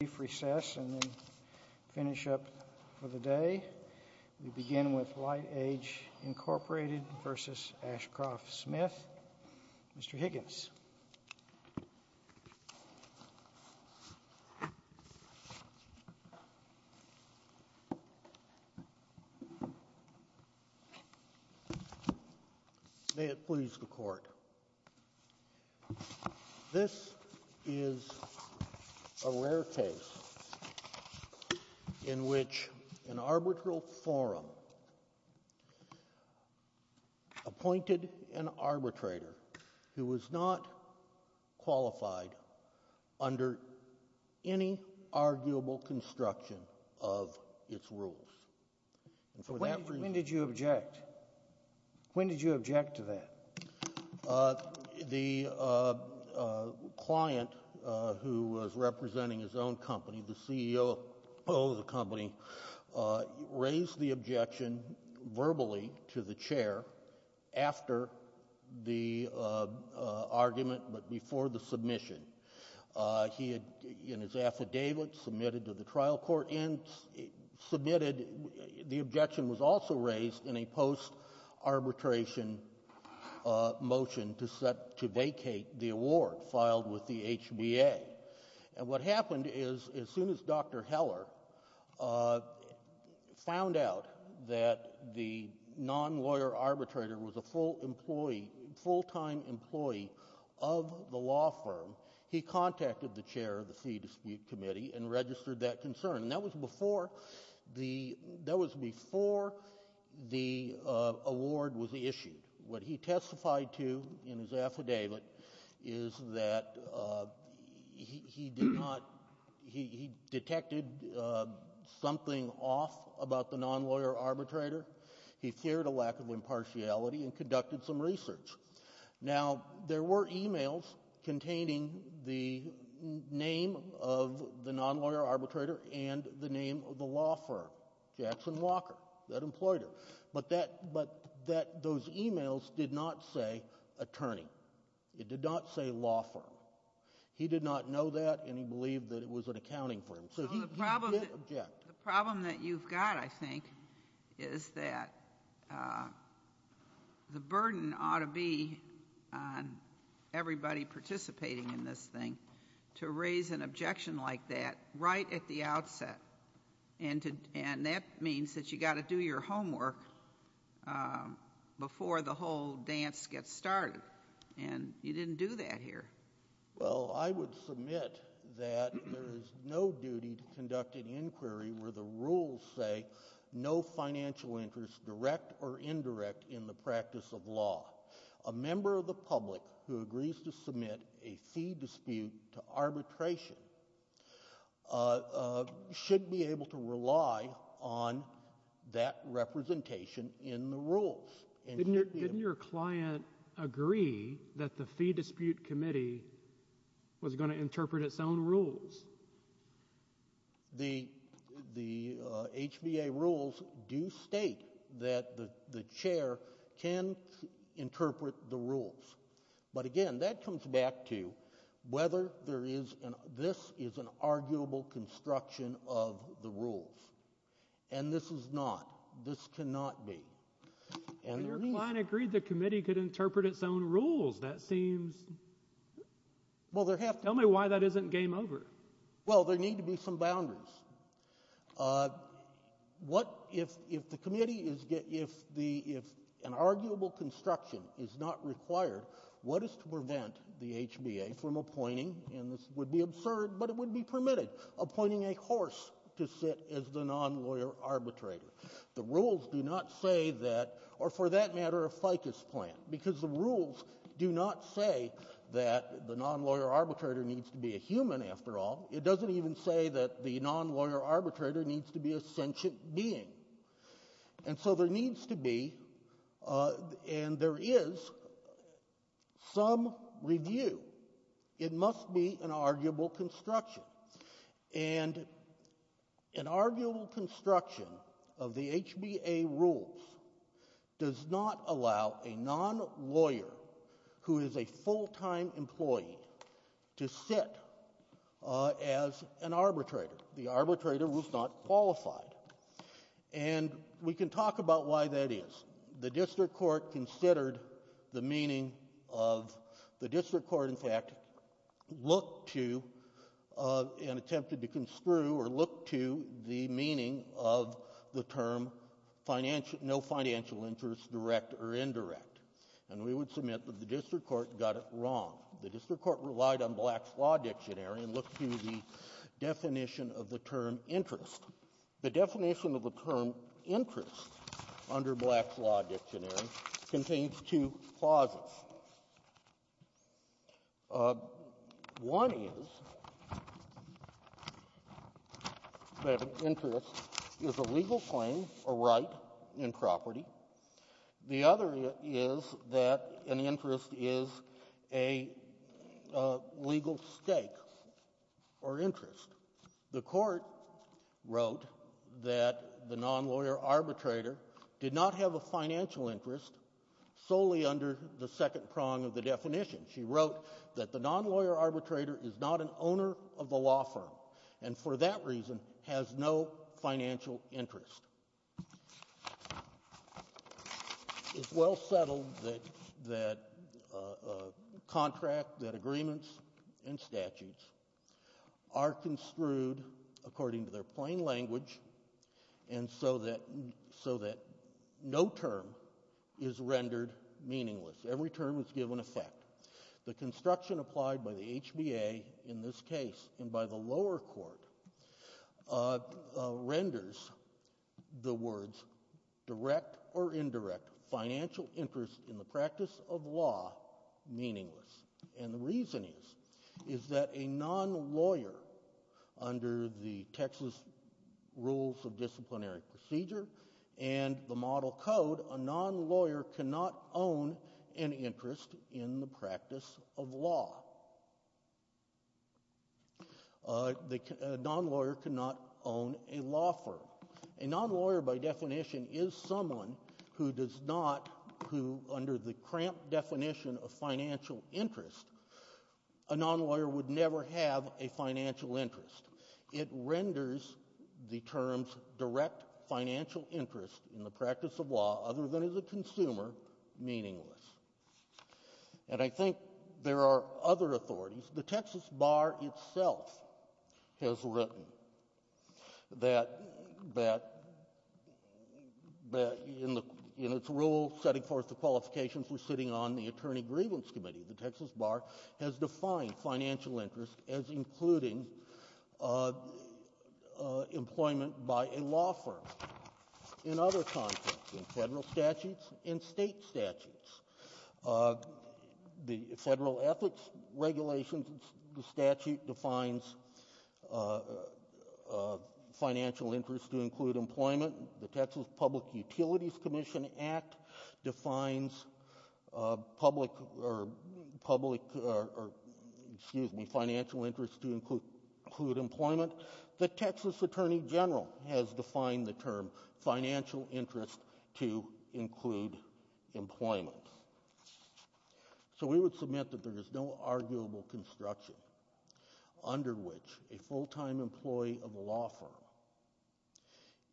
May it please the Court. This is a rare case in which an arbitral forum appointed an arbitrator who was not qualified under any arguable construction of its rules. When did you object? When did you object to that? The client who was representing his own company, the CEO of the company, raised the objection verbally to the chair after the argument but before the submission. He had in his affidavit submitted to the trial court and the objection was also raised in a post-arbitration motion to vacate the award filed with the HBA. And what happened is as soon as Dr. Heller found out that the non-lawyer arbitrator was a full-time employee of the law firm, he contacted the chair of the Fee Dispute Committee and registered that concern. That was before the award was issued. What he testified to in his affidavit is that he detected something off about the non-lawyer arbitrator. He feared a lack of impartiality and conducted some research. Now there were emails containing the name of the non-lawyer arbitrator and the name of the law firm, Jackson Walker, that employed her. But those emails did not say attorney. It did not say law firm. He did not know that and he believed that it was an accounting firm. So he did object. But the problem that you've got, I think, is that the burden ought to be on everybody participating in this thing to raise an objection like that right at the outset. And that means that you've got to do your homework before the whole dance gets started. And you didn't do that here. Well, I would submit that there is no duty to conduct an inquiry where the rules say no financial interest, direct or indirect, in the practice of law. A member of the public who agrees to submit a fee dispute to arbitration shouldn't be able to rely on that representation in the rules. Didn't your client agree that the fee dispute committee was going to interpret its own rules? The HBA rules do state that the chair can interpret the rules. But, again, that comes back to whether this is an arguable construction of the rules. And this is not. This cannot be. And your client agreed the committee could interpret its own rules. That seems – tell me why that isn't game over. Well, there need to be some boundaries. What – if the committee is – if an arguable construction is not required, what is to prevent the HBA from appointing – and this would be absurd but it would be permitted – appointing a horse to sit as the non-lawyer arbitrator? The rules do not say that – or for that matter a ficus plant, because the rules do not say that the non-lawyer arbitrator needs to be a human after all. It doesn't even say that the non-lawyer arbitrator needs to be a sentient being. And so there needs to be and there is some review. It must be an arguable construction. And an arguable construction of the HBA rules does not allow a non-lawyer who is a full-time employee to sit as an arbitrator. The arbitrator was not qualified. And we can talk about why that is. The district court considered the meaning of – the district court, in fact, looked to and attempted to construe or look to the meaning of the term no financial interest, direct or indirect. And we would submit that the district court got it wrong. The district court relied on Black's Law Dictionary and looked to the definition of the term interest. The definition of the term interest under Black's Law Dictionary contains two clauses. One is that an interest is a legal claim or right in property. The other is that an interest is a legal stake or interest. The court wrote that the non-lawyer arbitrator did not have a financial interest solely under the second prong of the definition. She wrote that the non-lawyer arbitrator is not an owner of the law firm and for that reason has no financial interest. It's well settled that a contract, that agreements and statutes are construed according to their plain language and so that no term is rendered meaningless. Every term is given effect. The construction applied by the HBA in this case and by the lower court renders the words direct or indirect financial interest in the practice of law meaningless. And the reason is that a non-lawyer under the Texas Rules of Disciplinary Procedure and the Model Code, a non-lawyer cannot own an interest in the practice of law. A non-lawyer cannot own a law firm. A non-lawyer by definition is someone who does not, who under the cramped definition of financial interest, a non-lawyer would never have a financial interest. It renders the terms direct financial interest in the practice of law, other than as a consumer, meaningless. And I think there are other authorities. The Texas Bar itself has written that in its rule setting forth the qualifications we're sitting on, the Attorney Grievance Committee, the Texas Bar has defined financial interest as including employment by a law firm in other contexts, in Federal statutes and State statutes. The Federal Ethics Regulations, the statute defines financial interest to include employment. The Texas Public Utilities Commission Act defines public, or public, or excuse me, financial interest to include employment. The Texas Attorney General has defined the term financial interest to include employment. So we would submit that there is no arguable construction under which a full-time employee of a law firm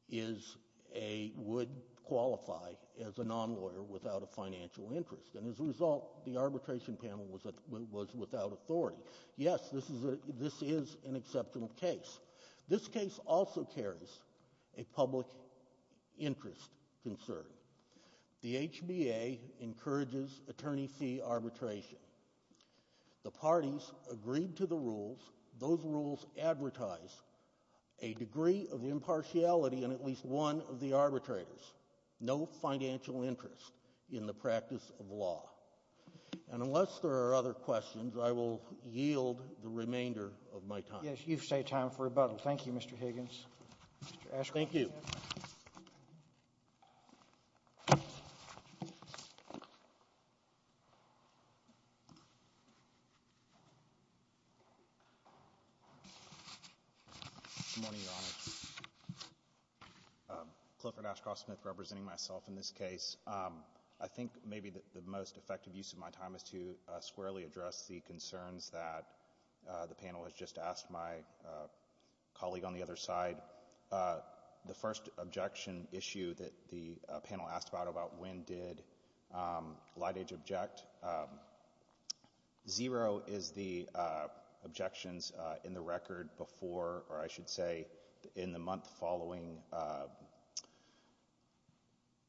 is a, would qualify as a non-lawyer without a financial interest. And as a result, the arbitration panel was without authority. Yes, this is an exceptional case. This case also carries a public interest concern. The HBA encourages attorney fee arbitration. The parties agreed to the rules. Those rules advertise a degree of impartiality in at least one of the arbitrators. No financial interest in the practice of law. And unless there are other questions, I will yield the remainder of my time. Yes, you've saved time for rebuttal. Thank you, Mr. Higgins. Thank you. Good morning, Your Honor. Clifford Ashcroft Smith representing myself in this case. I think maybe the most effective use of my time is to squarely address the concerns that the panel has just asked my colleague on the other side. The first objection issue that the panel asked about, about when did LightAge object, zero is the objections in the record before, or I should say in the month following, I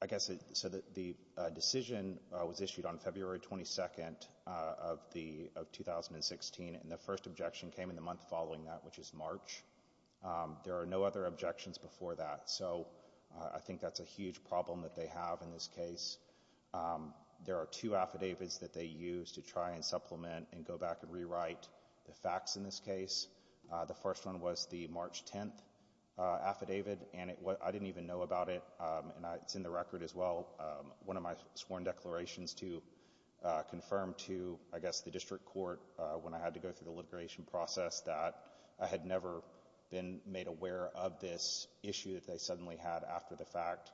guess so that the decision was issued on February 22nd of 2016, and the first objection came in the month following that, which is March. There are no other objections before that. So I think that's a huge problem that they have in this case. There are two affidavits that they use to try and supplement and go back and rewrite the facts in this case. The first one was the March 10th affidavit, and I didn't even know about it, and it's in the record as well. One of my sworn declarations to confirm to, I guess, the district court when I had to go through the litigation process that I had never been made aware of this issue that they suddenly had after the fact,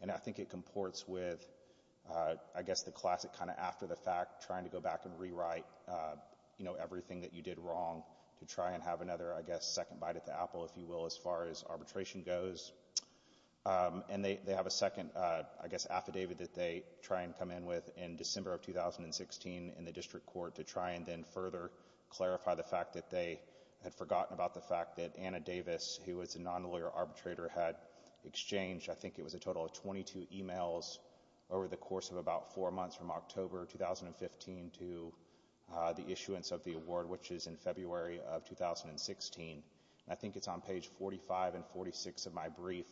and I think it comports with, I guess, the classic kind of after the fact, trying to go back and rewrite everything that you did wrong to try and have another, I guess, second bite at the apple, if you will, as far as arbitration goes. And they have a second, I guess, affidavit that they try and come in with in December of 2016 in the district court to try and then further clarify the fact that they had forgotten about the fact that Anna Davis, who is a non-lawyer arbitrator, had exchanged, I think it was a total of 22 emails over the course of about four months from October 2015 to the issuance of the award, which is in February of 2016. I think it's on page 45 and 46 of my brief.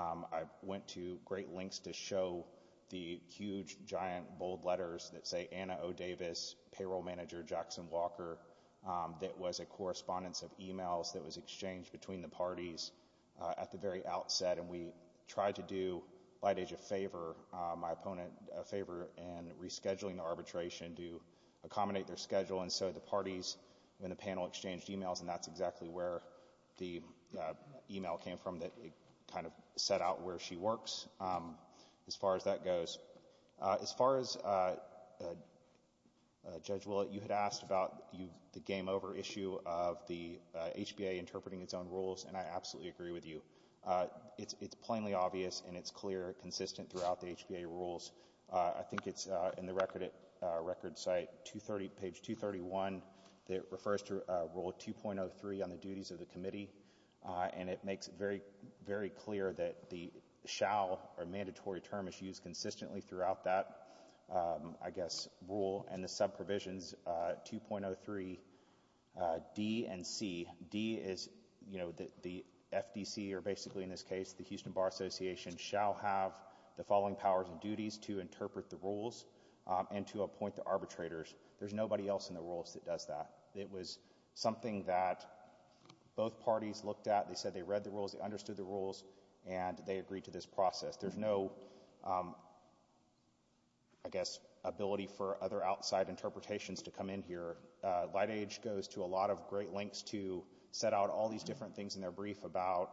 I went to great lengths to show the huge, giant, bold letters that say Anna O. Davis, payroll manager Jackson Walker, that was a correspondence of emails that was exchanged between the parties at the very outset, and we tried to do lightage a favor, my opponent a favor, in rescheduling the arbitration to accommodate their schedule. And so the parties in the panel exchanged emails, and that's exactly where the email came from that kind of set out where she works as far as that goes. As far as Judge Willett, you had asked about the game-over issue of the HBA interpreting its own rules, and I absolutely agree with you. It's plainly obvious, and it's clear, consistent throughout the HBA rules. I think it's in the record site, page 231, that refers to Rule 2.03 on the duties of the committee, and it makes it very, very clear that the shall or mandatory term is used consistently throughout that, I guess, rule, and the sub-provisions 2.03D and C. D is, you know, the FDC, or basically in this case, the Houston Bar Association, shall have the following powers and duties to interpret the rules and to appoint the arbitrators. There's nobody else in the rules that does that. It was something that both parties looked at. They said they read the rules, they understood the rules, and they agreed to this process. There's no, I guess, ability for other outside interpretations to come in here. LightAge goes to a lot of great lengths to set out all these different things in their brief about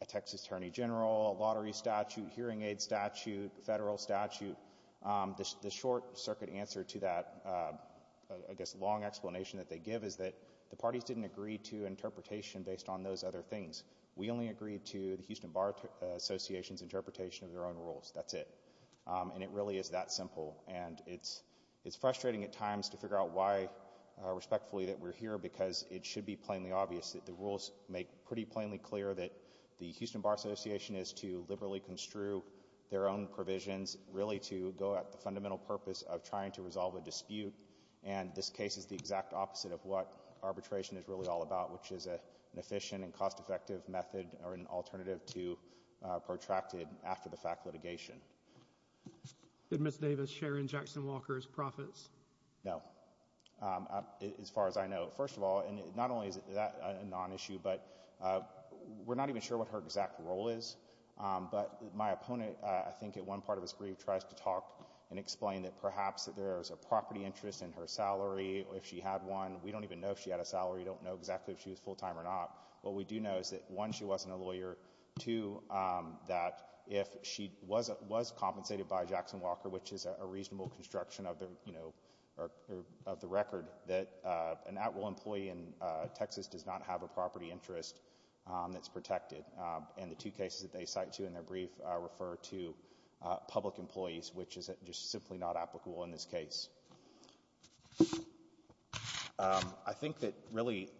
a Texas Attorney General, a lottery statute, hearing aid statute, federal statute. The short circuit answer to that, I guess, long explanation that they give is that the parties didn't agree to interpretation based on those other things. We only agreed to the Houston Bar Association's interpretation of their own rules. That's it. And it really is that simple. And it's frustrating at times to figure out why, respectfully, that we're here, because it should be plainly obvious that the rules make pretty plainly clear that the Houston Bar Association is to liberally construe their own provisions really to go at the fundamental purpose of trying to resolve a dispute. And this case is the exact opposite of what arbitration is really all about, which is an efficient and cost-effective method or an alternative to protracted after-the-fact litigation. Did Ms. Davis share in Jackson Walker's profits? No, as far as I know. First of all, and not only is that a non-issue, but we're not even sure what her exact role is. But my opponent, I think at one part of his brief, tries to talk and explain that perhaps there is a property interest in her salary, if she had one. We don't even know if she had a salary. We don't know exactly if she was full-time or not. What we do know is that, one, she wasn't a lawyer, two, that if she was compensated by Jackson Walker, which is a reasonable construction of the record, that an at-will employee in Texas does not have a property interest that's protected. And the two cases that they cite to in their brief refer to public employees, which is just simply not applicable in this case. I think that, really,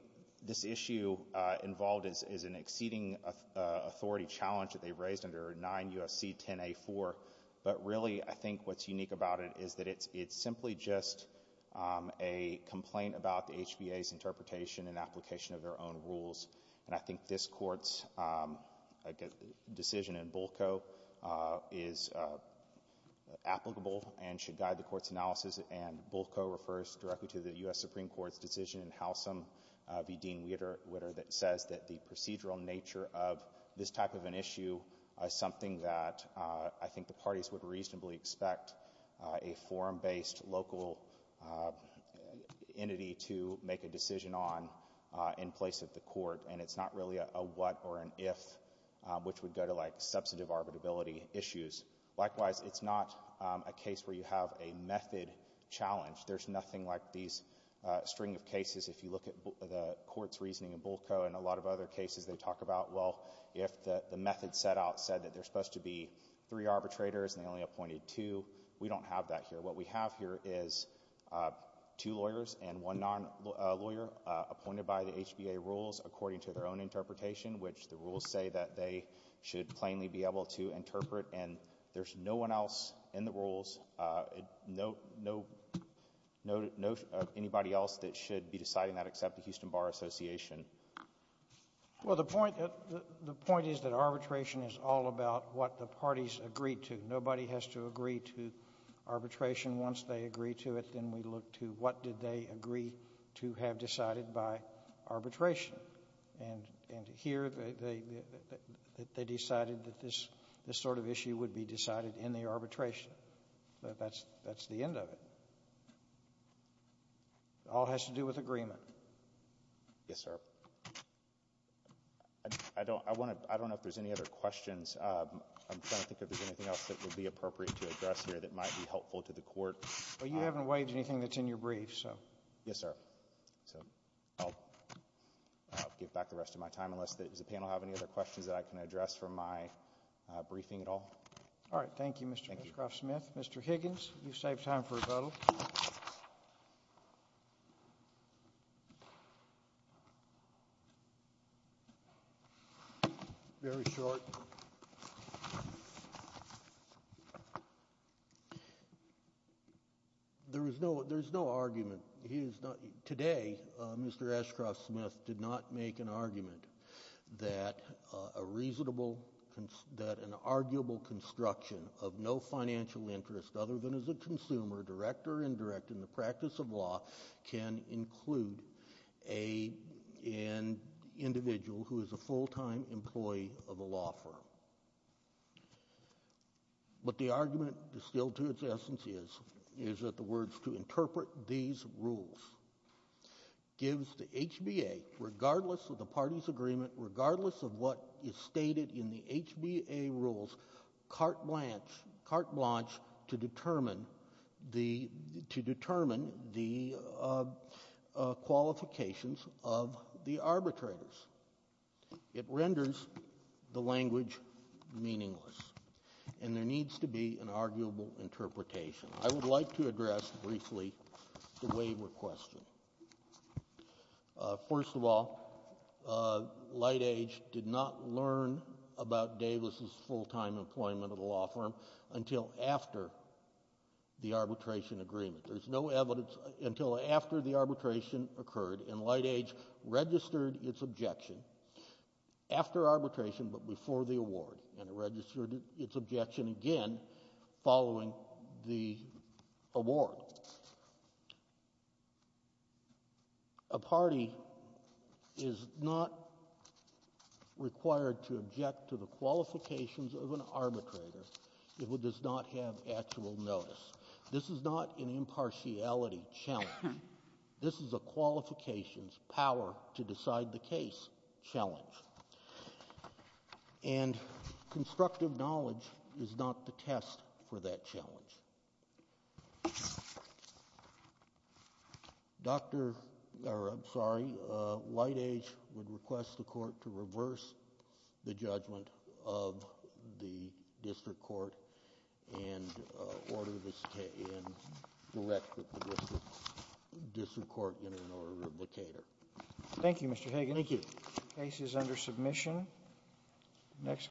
this issue involved is an exceeding authority challenge that they've raised under 9 U.S.C. 10-A-4. But, really, I think what's unique about it is that it's simply just a complaint about the HBA's interpretation and application of their own rules. And I think this Court's decision in BULCO is applicable and should guide the Court's analysis, and BULCO refers directly to the U.S. Supreme Court's decision in Howsam v. Dean Witter that says that the procedural nature of this type of an issue is something that I think the parties would reasonably expect a forum-based, local entity to make a decision on in place of the Court. And it's not really a what or an if, which would go to, like, substantive arbitrability issues. Likewise, it's not a case where you have a method challenge. There's nothing like these string of cases. If you look at the Court's reasoning in BULCO and a lot of other cases they talk about, well, if the method set out said that there's supposed to be three arbitrators and they only appointed two, we don't have that here. What we have here is two lawyers and one non-lawyer appointed by the HBA rules according to their own interpretation, which the rules say that they should plainly be able to interpret. And there's no one else in the rules, no anybody else that should be deciding that except the Houston Bar Association. Well, the point is that arbitration is all about what the parties agree to. Nobody has to agree to arbitration. Once they agree to it, then we look to what did they agree to have decided by arbitration. And here they decided that this sort of issue would be decided in the arbitration. That's the end of it. It all has to do with agreement. Yes, sir. I don't know if there's any other questions. I'm trying to think if there's anything else that would be appropriate to address here that might be helpful to the Court. Well, you haven't waived anything that's in your brief, so. Yes, sir. So I'll give back the rest of my time unless the panel have any other questions that I can address from my briefing at all. All right. Thank you, Mr. Smith. Mr. Higgins, you saved time for rebuttal. Very short. Thank you. There is no argument. Today, Mr. Ashcroft Smith did not make an argument that a reasonable, that an arguable construction of no financial interest other than as a consumer, direct or indirect in the practice of law, can include an individual who is a full-time employee of a law firm. What the argument distilled to its essence is, is that the words to interpret these rules gives the HBA, regardless of the party's agreement, regardless of what is stated in the HBA rules, carte blanche to determine the qualifications of the arbitrators. It renders the language meaningless, and there needs to be an arguable interpretation. I would like to address briefly the waiver question. First of all, LightAge did not learn about Davis's full-time employment at a law firm until after the arbitration agreement. There's no evidence until after the arbitration occurred, and LightAge registered its objection after arbitration but before the award, and it registered its objection again following the award. A party is not required to object to the qualifications of an arbitrator if it does not have actual notice. This is not an impartiality challenge. This is a qualifications power to decide the case challenge. And constructive knowledge is not the test for that challenge. LightAge would request the court to reverse the judgment of the district court and order this case and direct the district court in an order of locator. Thank you, Mr. Hagan. The case is under submission.